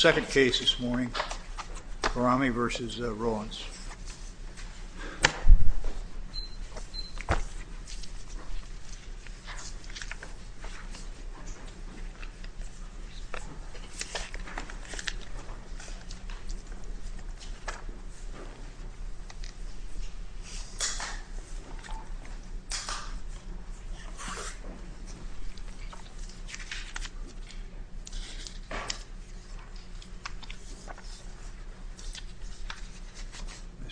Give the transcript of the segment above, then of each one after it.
Second case this morning, Khorrami v. Rolince.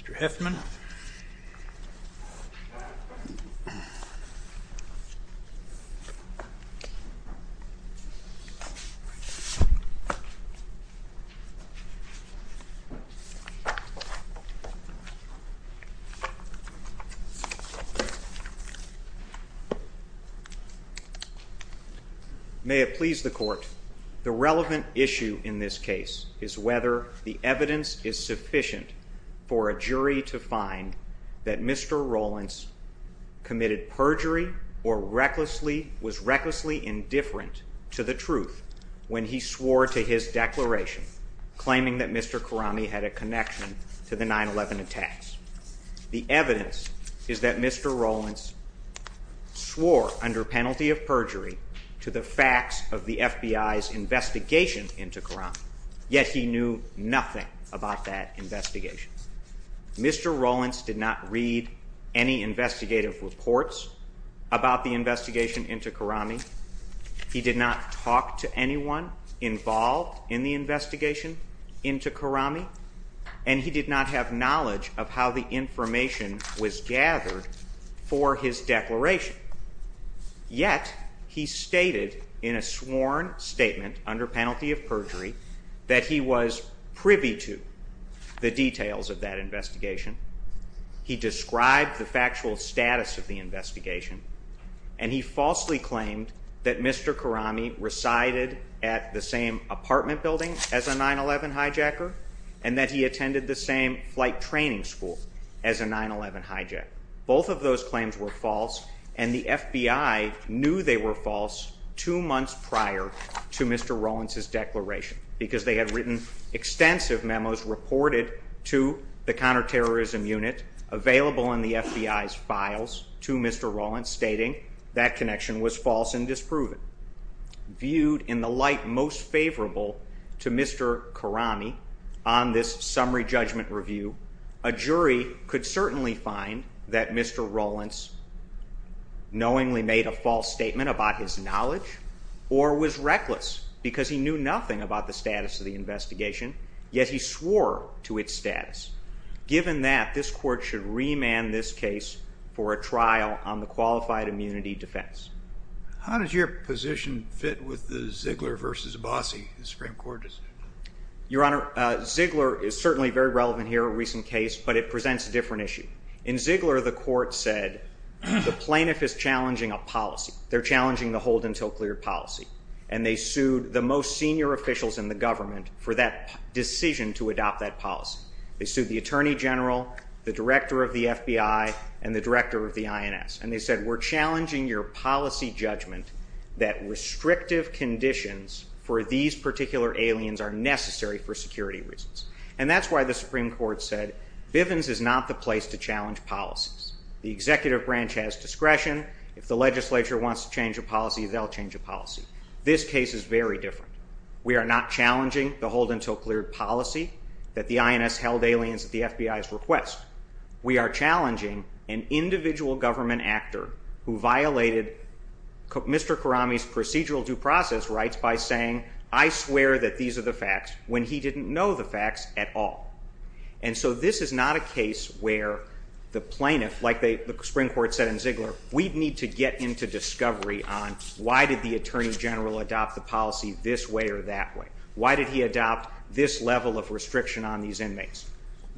Mr. Heffman. May it please the court, the relevant issue in this case is whether the evidence is sufficient for a jury to find that Mr. Rolince committed perjury or was recklessly indifferent to the truth when he swore to his declaration, claiming that Mr. Khorrami had a connection to the 9-11 attacks. The evidence is that Mr. Rolince swore under penalty of perjury to the facts of the FBI's investigation into Khorrami, yet he knew nothing about that investigation. Mr. Rolince did not read any investigative reports about the investigation into Khorrami. He did not talk to anyone involved in the investigation into Khorrami, and he did not have knowledge of how the information was gathered for his declaration. Yet he stated in a sworn statement under penalty of perjury that he was privy to the details of that investigation, he described the factual status of the investigation, and he falsely claimed that Mr. Khorrami resided at the same apartment building as a 9-11 hijacker and that he attended the same flight training school as a 9-11 hijacker. Both of those claims were false, and the FBI knew they were false two months prior to Mr. Rolince's declaration because they had written extensive memos reported to the counterterrorism unit available in the FBI's files to Mr. Rolince stating that connection was false and disproven. Viewed in the light most favorable to Mr. Khorrami on this summary judgment review, a jury could certainly find that Mr. Rolince knowingly made a false statement about his knowledge or was reckless because he knew nothing about the status of the investigation, yet he swore to its status. Given that, this court should remand this case for a trial on the qualified immunity defense. How does your position fit with the Ziegler versus Abbasi Supreme Court? Your Honor, Ziegler is certainly very relevant here, a recent case, but it presents a different issue. In Ziegler, the court said the plaintiff is challenging a policy. They're challenging the hold until clear policy, and they sued the most senior officials in the government for that decision to adopt that policy. They sued the attorney general, the director of the FBI, and the director of the INS, and they said we're challenging your policy judgment that restrictive conditions for these particular aliens are necessary for security reasons. And that's why the Supreme Court said Bivens is not the place to challenge policies. The executive branch has discretion. If the legislature wants to change a policy, they'll change a policy. This case is very different. We are not challenging the hold until clear policy that the INS held aliens at the FBI's request. We are challenging an individual government actor who violated Mr. Karami's procedural due process rights by saying, I swear that these are the facts, when he didn't know the facts at all. And so this is not a case where the plaintiff, like the Supreme Court said in Ziegler, we Why did he adopt this level of restriction on these inmates?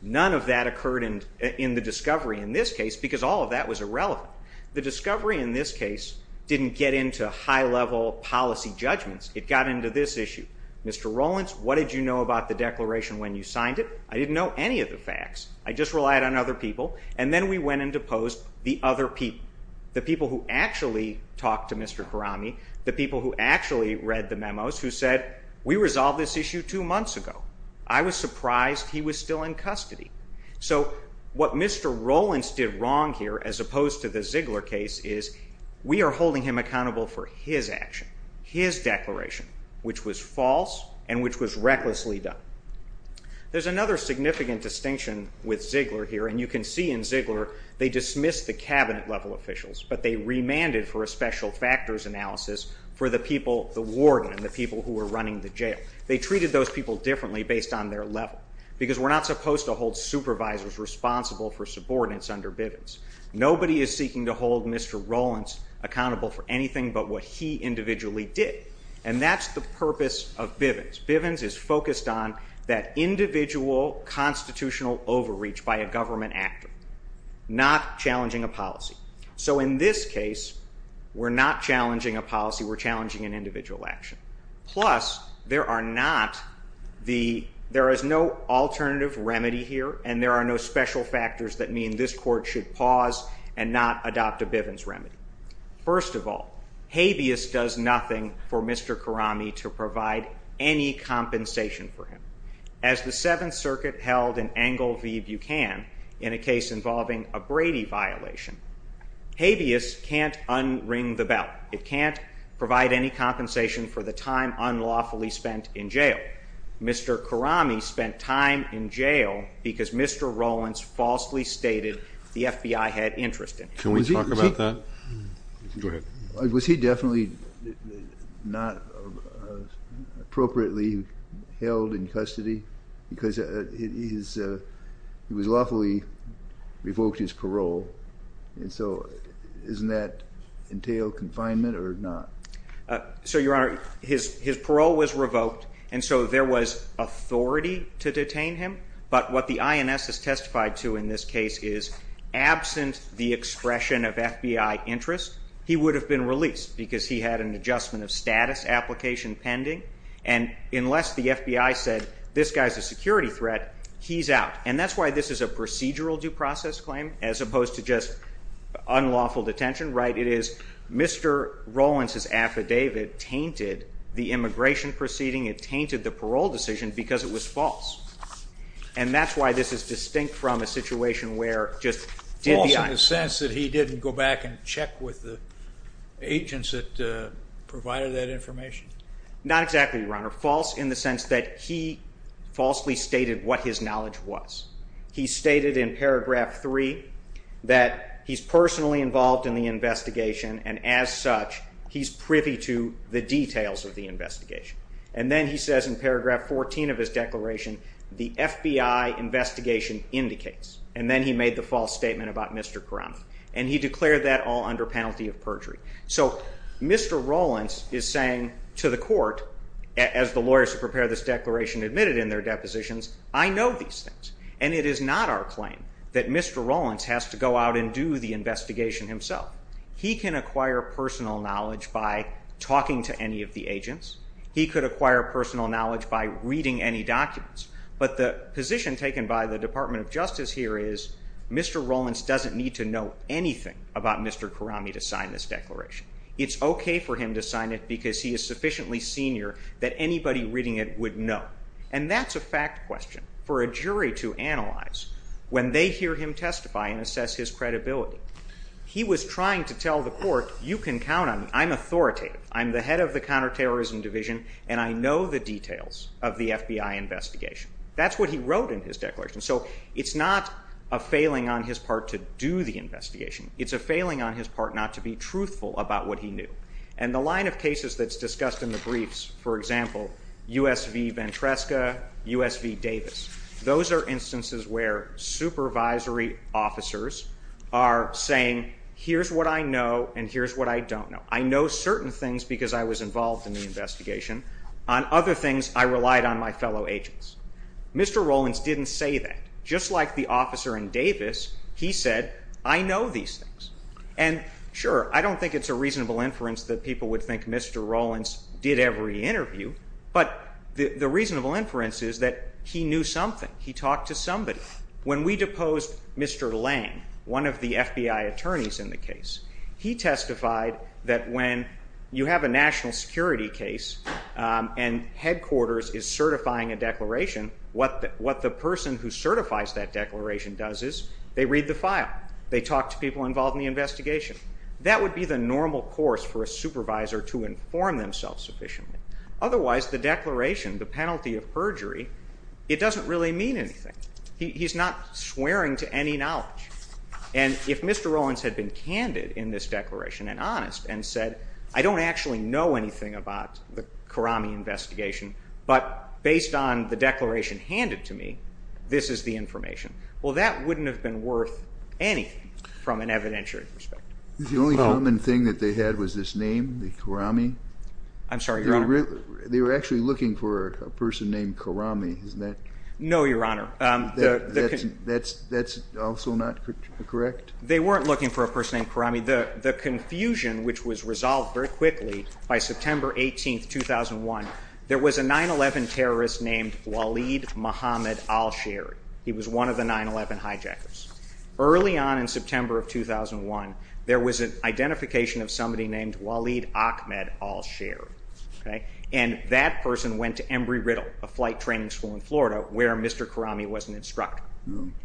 None of that occurred in the discovery in this case, because all of that was irrelevant. The discovery in this case didn't get into high-level policy judgments. It got into this issue. Mr. Rowlands, what did you know about the declaration when you signed it? I didn't know any of the facts. I just relied on other people. And then we went and deposed the other people, the people who actually talked to Mr. Karami, the people who actually read the memos, who said, we resolved this issue two months ago. I was surprised he was still in custody. So what Mr. Rowlands did wrong here, as opposed to the Ziegler case, is we are holding him accountable for his action, his declaration, which was false and which was recklessly done. There's another significant distinction with Ziegler here, and you can see in Ziegler they remanded for a special factors analysis for the people, the warden and the people who were running the jail. They treated those people differently based on their level, because we're not supposed to hold supervisors responsible for subordinates under Bivens. Nobody is seeking to hold Mr. Rowlands accountable for anything but what he individually did. And that's the purpose of Bivens. Bivens is focused on that individual constitutional overreach by a government actor, not challenging a policy. So in this case, we're not challenging a policy, we're challenging an individual action. Plus, there are not the, there is no alternative remedy here, and there are no special factors that mean this court should pause and not adopt a Bivens remedy. First of all, habeas does nothing for Mr. Karami to provide any compensation for him. As the Seventh Circuit held in Engel v. Buchan in a case involving a Brady violation, habeas can't un-ring the bell. It can't provide any compensation for the time unlawfully spent in jail. Mr. Karami spent time in jail because Mr. Rowlands falsely stated the FBI had interest in him. Can we talk about that? Go ahead. Was he definitely not appropriately held in custody? Because he was lawfully revoked his parole, and so doesn't that entail confinement or not? So your Honor, his parole was revoked, and so there was authority to detain him. But what the INS has testified to in this case is, absent the expression of FBI interest, he would have been released because he had an adjustment of status application pending, and unless the FBI said, this guy's a security threat, he's out. And that's why this is a procedural due process claim, as opposed to just unlawful detention, right? It is Mr. Rowlands' affidavit tainted the immigration proceeding, it tainted the parole decision, because it was false. And that's why this is distinct from a situation where just the FBI. False in the sense that he didn't go back and check with the agents that provided that information? Not exactly, Your Honor. False in the sense that he falsely stated what his knowledge was. He stated in paragraph three that he's personally involved in the investigation, and as such, he's privy to the details of the investigation. And then he says in paragraph 14 of his declaration, the FBI investigation indicates. And then he made the false statement about Mr. Karanth. And he declared that all under penalty of perjury. So Mr. Rowlands is saying to the court, as the lawyers who prepared this declaration admitted in their depositions, I know these things. And it is not our claim that Mr. Rowlands has to go out and do the investigation himself. He can acquire personal knowledge by talking to any of the agents. He could acquire personal knowledge by reading any documents. But the position taken by the Department of Justice here is Mr. Rowlands doesn't need to know anything about Mr. Karanth to sign this declaration. It's OK for him to sign it because he is sufficiently senior that anybody reading it would know. And that's a fact question for a jury to analyze when they hear him testify and assess his credibility. He was trying to tell the court, you can count on me. I'm authoritative. I'm the head of the counterterrorism division. And I know the details of the FBI investigation. That's what he wrote in his declaration. So it's not a failing on his part to do the investigation. It's a failing on his part not to be truthful about what he knew. And the line of cases that's discussed in the briefs, for example, USV Ventresca, USV Davis, those are instances where supervisory officers are saying, here's what I know. And here's what I don't know. I know certain things because I was involved in the investigation. On other things, I relied on my fellow agents. Mr. Rowlands didn't say that. Just like the officer in Davis, he said, I know these things. And sure, I don't think it's a reasonable inference that people would think Mr. Rowlands did every interview. But the reasonable inference is that he knew something. He talked to somebody. When we deposed Mr. Lang, one of the FBI attorneys in the case, he testified that when you have a national security case and headquarters is certifying a declaration, what the person who certifies that declaration does is they read the file. They talk to people involved in the investigation. That would be the normal course for a supervisor to inform themselves sufficiently. Otherwise, the declaration, the penalty of perjury, it doesn't really mean anything. He's not swearing to any knowledge. And if Mr. Rowlands had been candid in this declaration and honest and said, I don't actually know anything about the Karami investigation. But based on the declaration handed to me, this is the information. Well, that wouldn't have been worth anything from an evidentiary perspective. The only common thing that they had was this name, the Karami. I'm sorry, Your Honor. They were actually looking for a person named Karami, isn't that? No, Your Honor. That's also not correct? They weren't looking for a person named Karami. The confusion, which was resolved very quickly by September 18, 2001, there was a 9-11 terrorist named Waleed Mohammed Al-Sherry. He was one of the 9-11 hijackers. Early on in September of 2001, there was an identification of somebody named Waleed Ahmed Al-Sherry. And that person went to Embry-Riddle, a flight training school in Florida, where Mr. Karami was an instructor.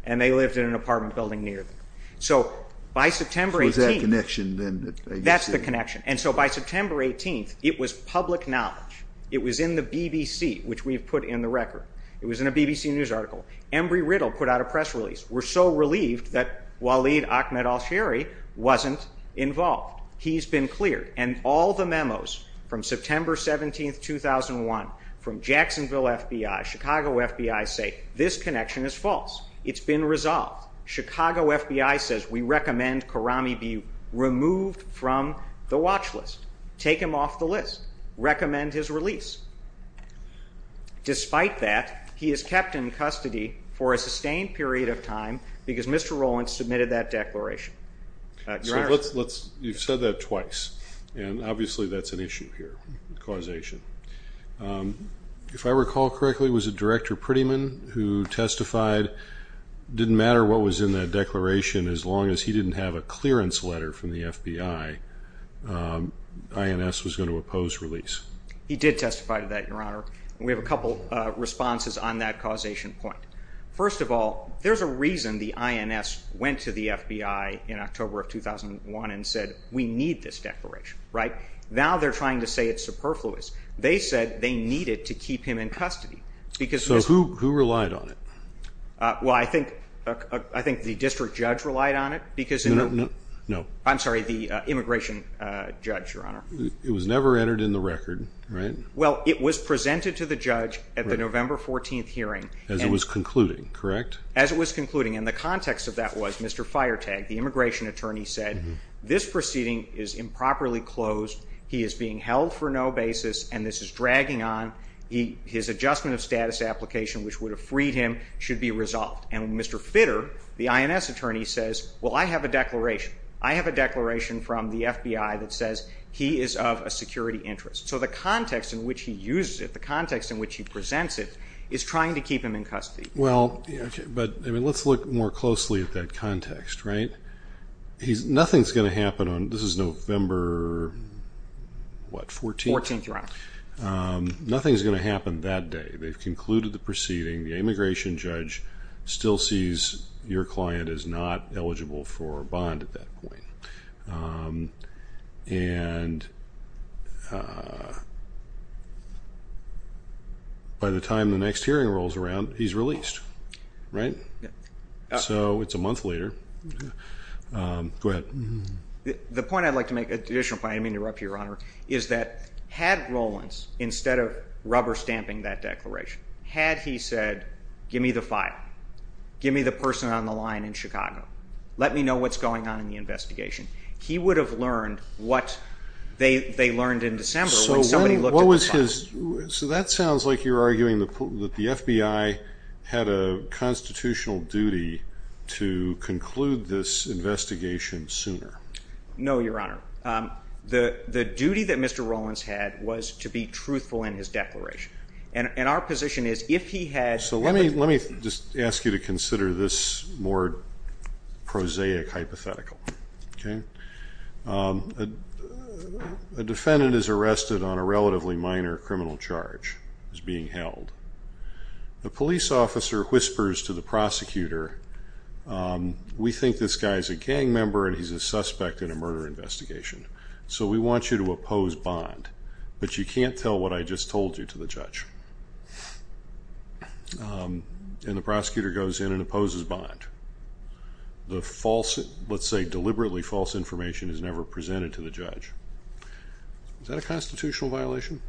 And they lived in an apartment building near them. So by September 18, that's the connection. And so by September 18, it was public knowledge. It was in the BBC, which we've put in the record. It was in a BBC News article. Embry-Riddle put out a press release. We're so relieved that Waleed Ahmed Al-Sherry wasn't involved. He's been cleared. And all the memos from September 17, 2001, from Jacksonville FBI, Chicago FBI, say this connection is false. It's been resolved. Chicago FBI says we recommend Karami be removed from the watch list. Take him off the list. Recommend his release. Despite that, he is kept in custody for a sustained period of time because Mr. Rowlands submitted that declaration. Your Honor. You've said that twice. And obviously, that's an issue here, causation. If I recall correctly, was it Director Prettyman who testified, didn't matter what was in that declaration, as long as he didn't have a clearance letter from the FBI, INS was going to oppose release? He did testify to that, Your Honor. We have a couple responses on that causation point. First of all, there's a reason the INS went to the FBI in October of 2001 and said, we need this declaration, right? Now they're trying to say it's superfluous. They said they needed to keep him in custody. So who relied on it? Well, I think the district judge relied on it. No, no, no. I'm sorry, the immigration judge, Your Honor. It was never entered in the record, right? Well, it was presented to the judge at the November 14 hearing. As it was concluding, correct? As it was concluding. And the context of that was Mr. Firetag, the immigration attorney, said this proceeding is improperly closed. He is being held for no basis, and this is dragging on. His adjustment of status application, which would have freed him, should be resolved. And Mr. Fitter, the INS attorney, says, well, I have a declaration. I have a declaration from the FBI that says he is of a security interest. So the context in which he uses it, the context in which he presents it, is trying to keep him in custody. Well, but let's look more closely at that context, right? Nothing's going to happen on, this is November, what, 14th? 14th, Your Honor. Nothing's going to happen that day. They've concluded the proceeding. The immigration judge still sees your client is not eligible for a bond at that point. And by the time the next hearing rolls around, he's released, right? So it's a month later. Go ahead. The point I'd like to make, additional point, I didn't mean to interrupt you, Your Honor, is that had Rollins, instead of rubber stamping that declaration, had he said, give me the file. Give me the person on the line in Chicago. Let me know what's going on in the investigation. He would have learned what they learned in December when somebody looked at the files. So that sounds like you're arguing that the FBI had a constitutional duty to conclude this investigation sooner. No, Your Honor. The duty that Mr. Rollins had was to be truthful in his declaration. And our position is, if he had- So let me just ask you to consider this more prosaic hypothetical. Okay? A defendant is arrested on a relatively minor criminal charge, is being held. The police officer whispers to the prosecutor, we think this guy's a gang member and he's a suspect in a murder investigation. So we want you to oppose bond. But you can't tell what I just told you to the judge. And the prosecutor goes in and opposes bond. The false, let's say deliberately false information is never presented to the judge. Is that a constitutional violation?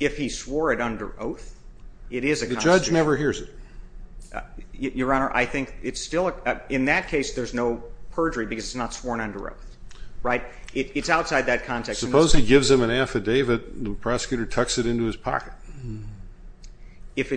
If he swore it under oath, it is a constitutional- The judge never hears it. Your Honor, I think it's still, in that case there's no perjury because it's not sworn under oath. Right? It's outside that context. Suppose he gives him an affidavit, the prosecutor tucks it into his pocket. If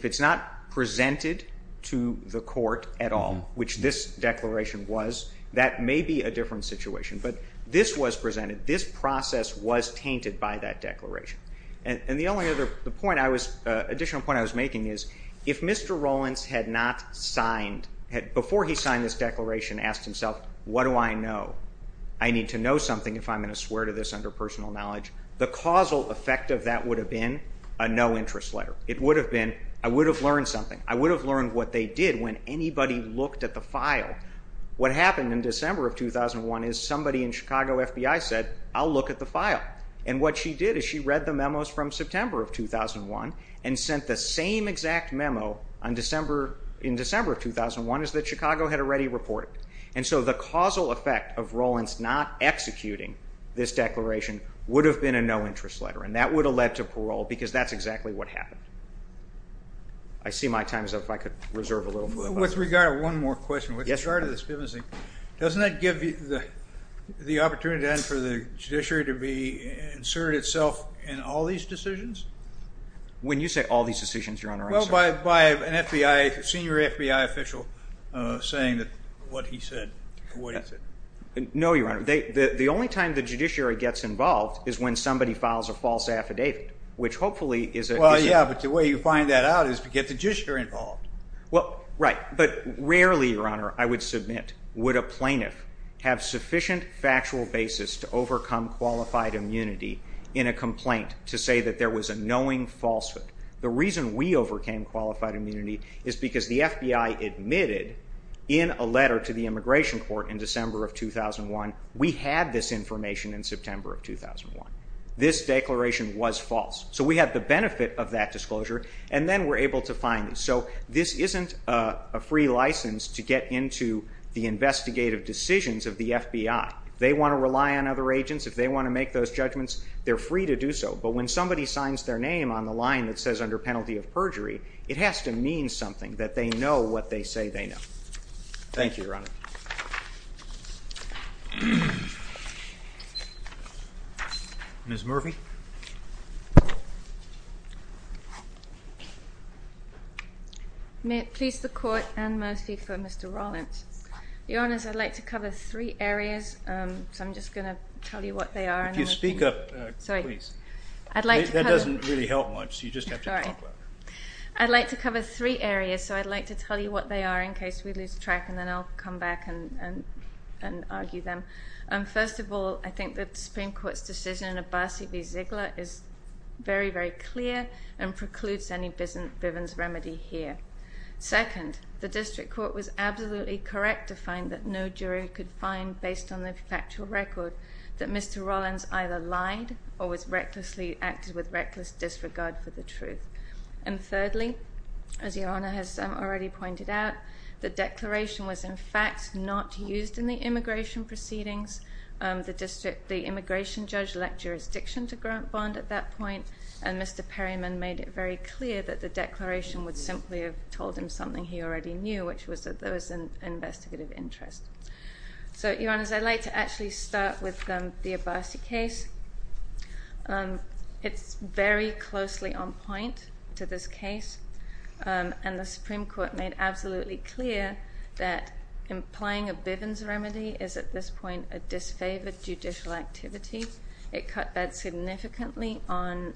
it's not presented to the court at all, which this declaration was, that may be a different situation. But this was presented, this process was tainted by that declaration. And the only other point I was, additional point I was making is, if Mr. Rowlands had not signed, before he signed this declaration, asked himself, what do I know? I need to know something if I'm going to swear to this under personal knowledge. The causal effect of that would have been a no interest letter. It would have been, I would have learned something. I would have learned what they did when anybody looked at the file. What happened in December of 2001 is somebody in Chicago FBI said, I'll look at the file. And what she did is she read the memos from September of 2001 and sent the same exact memo on December, in December of 2001 is that Chicago had already reported. And so the causal effect of Rowlands not executing this declaration would have been a no interest letter. And that would have led to parole, because that's exactly what happened. I see my time is up. If I could reserve a little. With regard to one more question, with regard to this business, doesn't that give the opportunity then for the judiciary to be inserted itself in all these decisions? When you say all these decisions, Your Honor, I'm sorry. Well, by an FBI, senior FBI official saying that what he said, what he said. No, Your Honor. The only time the judiciary gets involved is when somebody files a false affidavit, which hopefully is a. Well, yeah, but the way you find that out is to get the judiciary involved. Well, right. But rarely, Your Honor, I would submit would a plaintiff have sufficient factual basis to overcome qualified immunity in a complaint to say that there was a knowing falsehood. The reason we overcame qualified immunity is because the FBI admitted in a letter to the immigration court in December of 2001, we had this information in September of 2001. This declaration was false. So we had the benefit of that disclosure. And then we're able to find it. So this isn't a free license to get into the investigative decisions of the FBI. They want to rely on other agents. If they want to make those judgments, they're free to do so. But when somebody signs their name on the line that says under penalty of perjury, it has to mean something, that they know what they say they know. Thank you, Your Honor. Ms. Murphy? May it please the court and mostly for Mr. Rollins. Your Honors, I'd like to cover three areas. So I'm just going to tell you what they are. If you speak up, please. Sorry. I'd like to cover. That doesn't really help much. You just have to talk louder. I'd like to cover three areas. So I'd like to tell you what they are in case we lose track. And then I'll come back and argue them. First of all, I think that the Supreme Court's decision in Abbasi v. Ziegler is very, very clear and precludes any Bivens remedy here. Second, the district court was absolutely correct to find that no jury could find, based on the factual record, that Mr. Rollins either lied or acted with reckless disregard for the truth. And thirdly, as Your Honor has already pointed out, the declaration was, in fact, not used in the immigration proceedings. The district, the immigration judge, lacked jurisdiction to grant bond at that point. And Mr. Perryman made it very clear that the declaration would simply have told him something he already knew, which was that there was an investigative interest. So Your Honors, I'd like to actually start with the Abbasi case. It's very closely on point to this case. And the Supreme Court made absolutely clear that implying a Bivens remedy is, at this point, a disfavored judicial activity. It cut that significantly on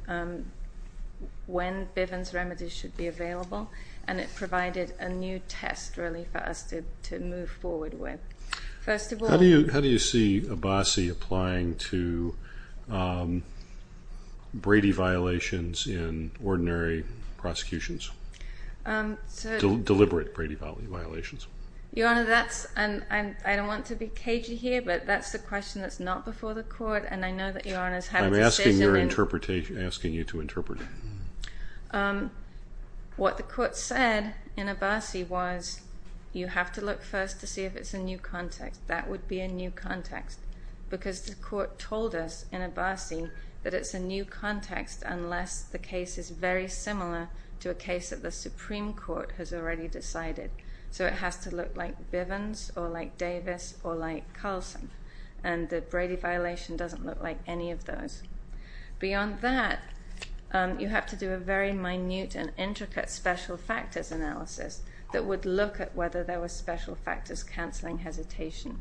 when Bivens remedies should be available. And it provided a new test, really, for us to move forward with. First of all... Brady violations in ordinary prosecutions. So... Deliberate Brady violations. Your Honor, that's... I don't want to be cagey here, but that's the question that's not before the court, and I know that Your Honor's had a decision in... I'm asking you to interpret it. What the court said in Abbasi was, you have to look first to see if it's a new context. That would be a new context. Because the court told us, in Abbasi, that it's a new context unless the case is very similar to a case that the Supreme Court has already decided. So it has to look like Bivens or like Davis or like Carlson. And the Brady violation doesn't look like any of those. Beyond that, you have to do a very minute and intricate special factors analysis that would look at whether there were special factors cancelling hesitation.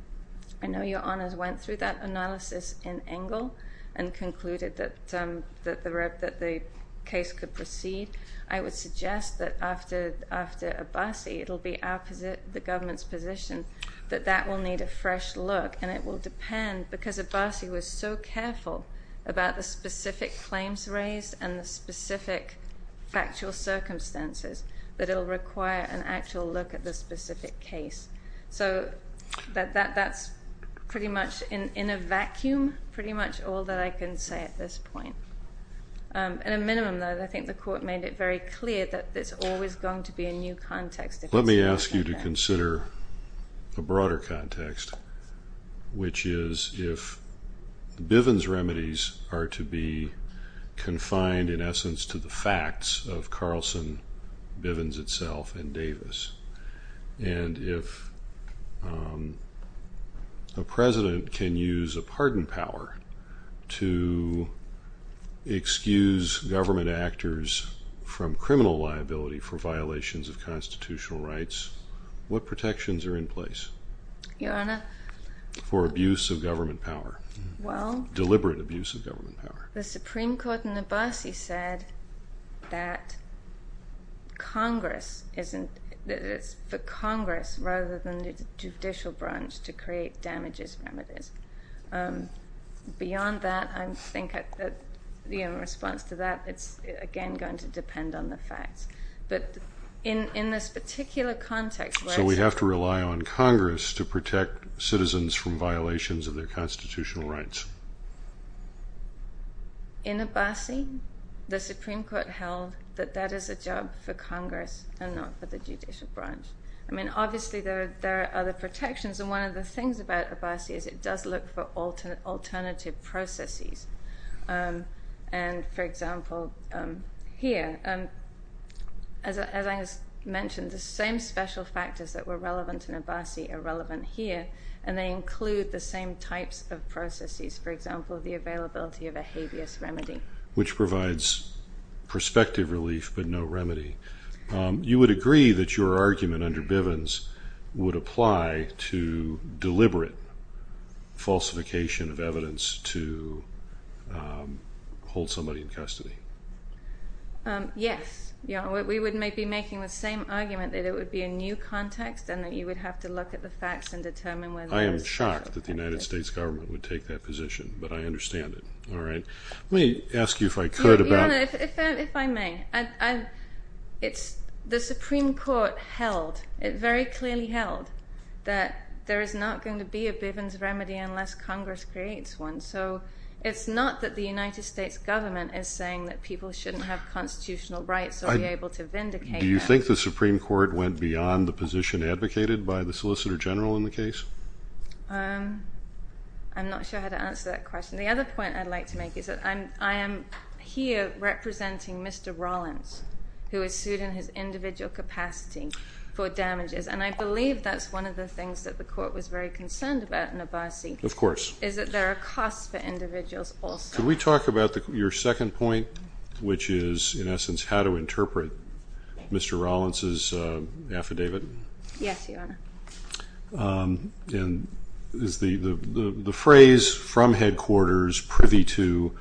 I know Your Honor's went through that analysis in Engle and concluded that the case could proceed. I would suggest that after Abbasi, it'll be the government's position that that will need a fresh look, and it will depend, because Abbasi was so careful about the specific claims raised and the specific factual circumstances, that it'll require an actual look at the specific case. So that's pretty much in a vacuum, pretty much all that I can say at this point. At a minimum, though, I think the court made it very clear that there's always going to be a new context. Let me ask you to consider a broader context, which is if Bivens remedies are to be confined, in essence, to the facts of Carlson, Bivens itself, and Davis, and if a president can use a pardon power to excuse government actors from criminal liability for violations of constitutional rights, what protections are in place for abuse of government power, deliberate abuse of government power? Well, the Supreme Court in Abbasi said that it's for Congress, rather than the judicial branch, to create damages remedies. Beyond that, I think in response to that, it's again going to depend on the facts. But in this particular context... So we have to rely on Congress to protect citizens from violations of their constitutional rights. In Abbasi, the Supreme Court held that that is a job for Congress and not for the judicial branch. I mean, obviously, there are other protections, and one of the things about Abbasi is it does look for alternative processes. And, for example, here, as I mentioned, the same special factors that were relevant in Abbasi are relevant here, and they include the same types of processes. For example, the availability of a habeas remedy. Which provides prospective relief, but no remedy. You would agree that your argument under Bivens would apply to deliberate falsification of evidence to hold somebody in custody? Yes. We would be making the same argument that it would be a new context and that you would have to look at the facts and determine... I am shocked that the United States government would take that position, but I understand it. Let me ask you if I could about... If I may. The Supreme Court held, it very clearly held, that there is not going to be a Bivens remedy unless Congress creates one. So it's not that the United States government is saying that people shouldn't have constitutional rights or be able to vindicate that. Do you think the Supreme Court went beyond the position advocated by the Solicitor General in the case? I'm not sure how to answer that question. The other point I'd like to make is that I am here representing Mr. Rollins, who is sued in his individual capacity for damages, and I believe that's one of the things that the court was very concerned about in Abbasi. Of course. Is that there are costs for individuals also. Can we talk about your second point, which is, in essence, how to interpret Mr. Rollins' affidavit? Yes, Your Honor. The phrase, from headquarters, privy to,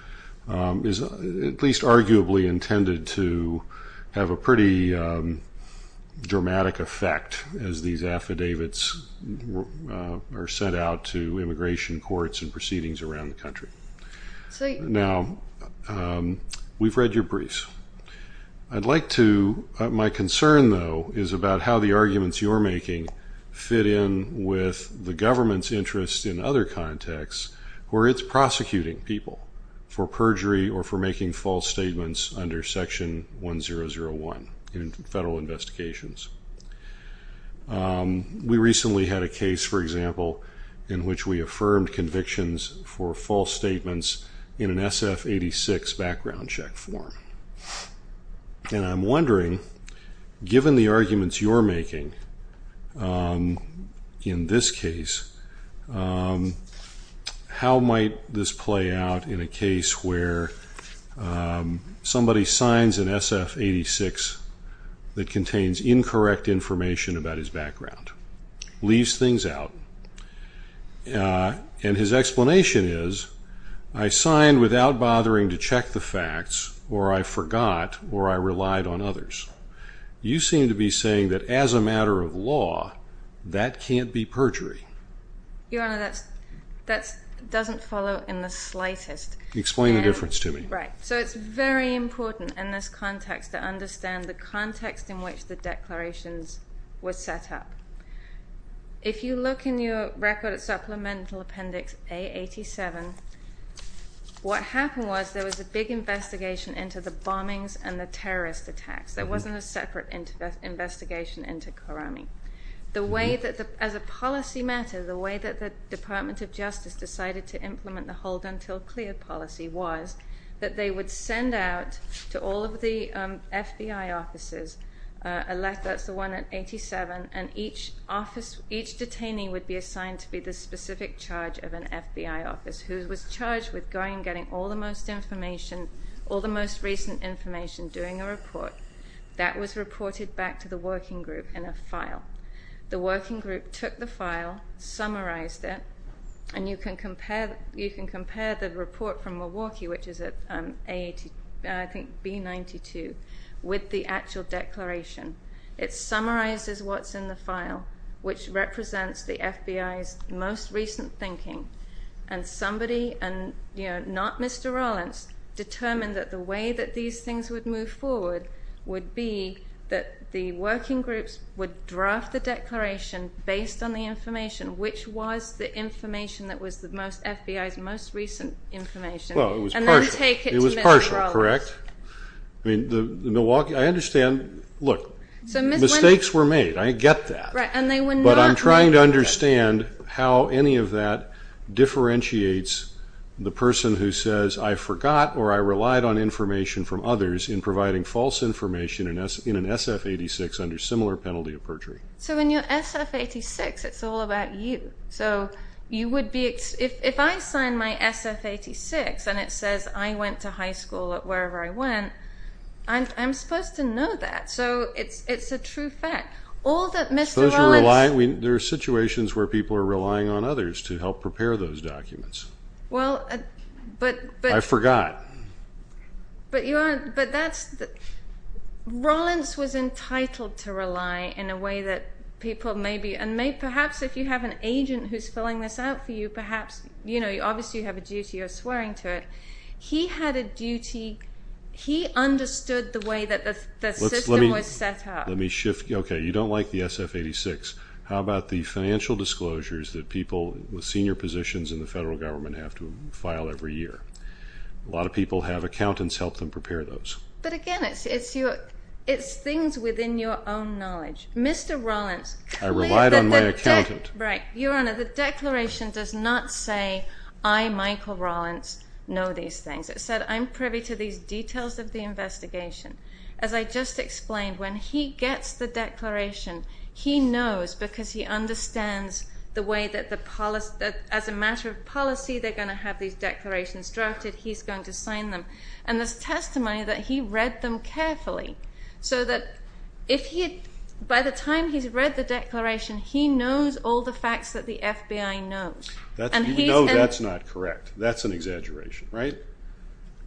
is at least arguably intended to have a pretty dramatic effect as these affidavits are sent out to immigration courts and proceedings around the country. Now, we've read your briefs. My concern, though, is about how the arguments you're making fit in with the government's interest in other contexts where it's prosecuting people for perjury or for making false statements under Section 1001 in federal investigations. We recently had a case, for example, in which we affirmed convictions for false statements in an SF-86 background check form. And I'm wondering, given the arguments you're making in this case, how might this play out in a case where somebody signs an SF-86 that contains incorrect information about his background, leaves things out, and his explanation is, I signed without bothering to check the facts, or I forgot, or I relied on others. You seem to be saying that, as a matter of law, that can't be perjury. Your Honor, that doesn't follow in the slightest. Explain the difference to me. Right. So it's very important in this context to understand the context in which the declarations were set up. If you look in your record at Supplemental Appendix A87, what happened was there was a big investigation into the bombings and the terrorist attacks. There wasn't a separate investigation into Karame. As a policy matter, the way that the Department of Justice decided to implement the hold until clear policy was that they would send out to all of the FBI offices, that's the one at 87, and each office, each detainee would be assigned to be the specific charge of an FBI office who was charged with going and getting all the most information, all the most recent information, doing a report. That was reported back to the working group in a file. The working group took the file, summarized it, and you can compare the report from Milwaukee, which is at B92, with the actual declaration. It summarizes what's in the file, which represents the FBI's most recent thinking, and somebody, not Mr. Rollins, determined that the way that these things would move forward would be that the working groups would draft the declaration based on the information, which was the information that was the FBI's most recent information, and then take it to Mr. Rollins. It was partial, correct? I understand. Look, mistakes were made. I get that, but I'm trying to understand how any of that differentiates the person who says, I forgot or I relied on information from others in providing false information in an SF-86 under similar penalty of perjury. So in your SF-86, it's all about you. So if I sign my SF-86 and it says I went to high school at wherever I went, I'm supposed to know that. So it's a true fact. Suppose you're relying. There are situations where people are relying on others to help prepare those documents. I forgot. But Rollins was entitled to rely in a way that people may be, and perhaps if you have an agent who's filling this out for you, perhaps obviously you have a duty of swearing to it. He had a duty. He understood the way that the system was set up. Let me shift. Okay, you don't like the SF-86. How about the financial disclosures that people with senior positions in the federal government have to file every year? A lot of people have accountants help them prepare those. But again, it's things within your own knowledge. Mr. Rollins claims that the declaration... I relied on my accountant. Right. Your Honor, the declaration does not say, I, Michael Rollins, know these things. It said, I'm privy to these details of the investigation. As I just explained, when he gets the declaration, he knows because he understands the way that as a matter of policy they're going to have these declarations drafted, he's going to sign them. And there's testimony that he read them carefully, so that by the time he's read the declaration, he knows all the facts that the FBI knows. You know that's not correct. That's an exaggeration, right?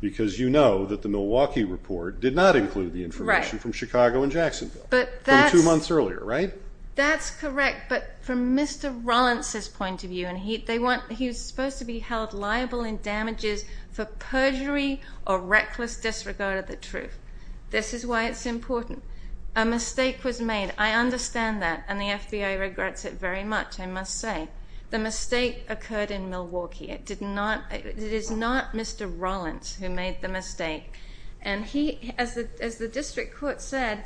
Because you know that the Milwaukee report did not include the information from Chicago and Jacksonville from two months earlier, right? That's correct, but from Mr. Rollins' point of view, and he's supposed to be held liable in damages for perjury or reckless disregard of the truth. This is why it's important. A mistake was made. I understand that, and the FBI regrets it very much, I must say. The mistake occurred in Milwaukee. It is not Mr. Rollins who made the mistake. And as the district court said,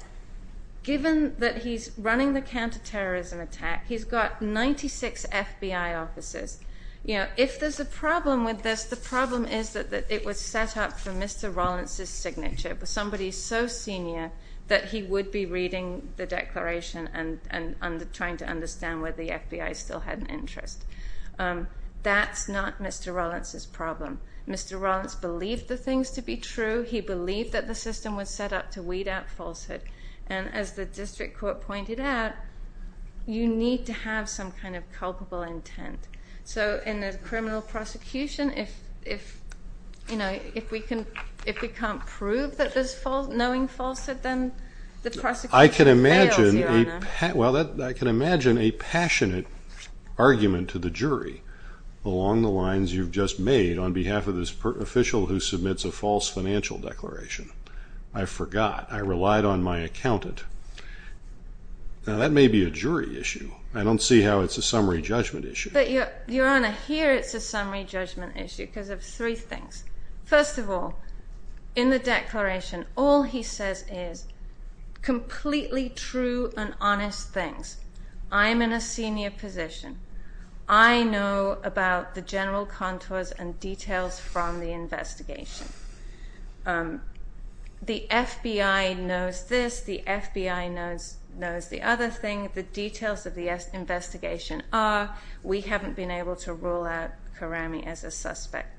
given that he's running the counterterrorism attack, he's got 96 FBI officers. If there's a problem with this, the problem is that it was set up for Mr. Rollins' signature, for somebody so senior that he would be reading the declaration and trying to understand whether the FBI still had an interest. That's not Mr. Rollins' problem. Mr. Rollins believed the things to be true. He believed that the system was set up to weed out falsehood. And as the district court pointed out, you need to have some kind of culpable intent. So in a criminal prosecution, if we can't prove that there's knowing falsehood, then the prosecution fails, Your Honor. I can imagine a passionate argument to the jury along the lines you've just made on behalf of this official who submits a false financial declaration. I forgot. I relied on my accountant. Now, that may be a jury issue. I don't see how it's a summary judgment issue. But, Your Honor, here it's a summary judgment issue because of three things. First of all, in the declaration, all he says is completely true and honest things. I'm in a senior position. I know about the general contours and details from the investigation. The FBI knows this. The FBI knows the other thing. The details of the investigation are we haven't been able to rule out Karami as a suspect.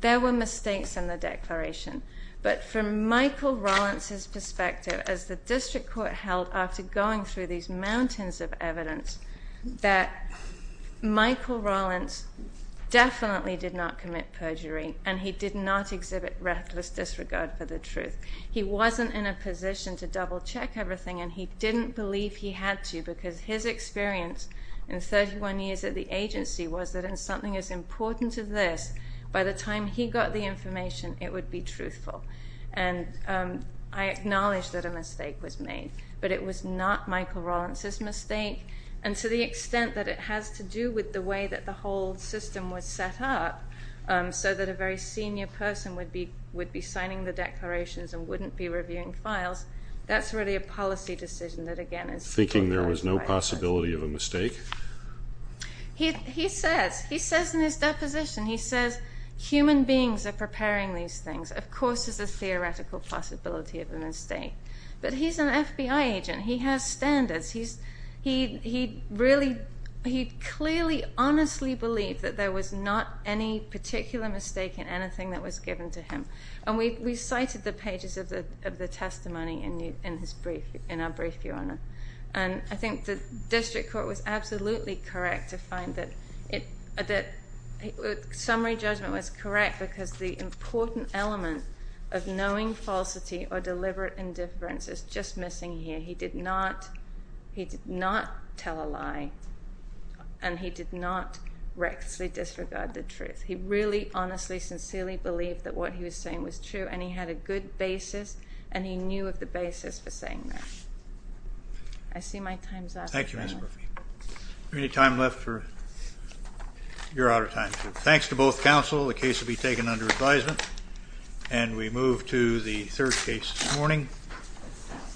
There were mistakes in the declaration. But from Michael Rollins' perspective, as the district court held after going through these mountains of evidence, that Michael Rollins definitely did not commit perjury and he did not exhibit reckless disregard for the truth. He wasn't in a position to double-check everything and he didn't believe he had to because his experience in 31 years at the agency was that in something as important as this, by the time he got the information, it would be truthful. And I acknowledge that a mistake was made. But it was not Michael Rollins' mistake. And to the extent that it has to do with the way that the whole system was set up so that a very senior person would be signing the declarations and wouldn't be reviewing files, that's really a policy decision that, again, is... Thinking there was no possibility of a mistake? He says in his deposition, he says, human beings are preparing these things. Of course there's a theoretical possibility of a mistake. But he's an FBI agent. He has standards. He really... He believes that there was not any particular mistake in anything that was given to him. And we cited the pages of the testimony in his brief, in our brief, Your Honour. And I think the district court was absolutely correct to find that summary judgment was correct because the important element of knowing falsity or deliberate indifference is just missing here. He did not... He did not tell a lie and he did not recklessly disregard the truth. He really, honestly, sincerely believed that what he was saying was true and he had a good basis and he knew of the basis for saying that. I see my time's up. Thank you, Ms Murphy. Any time left for...? You're out of time. Thanks to both counsel. The case will be taken under advisement. And we move to the third case this morning.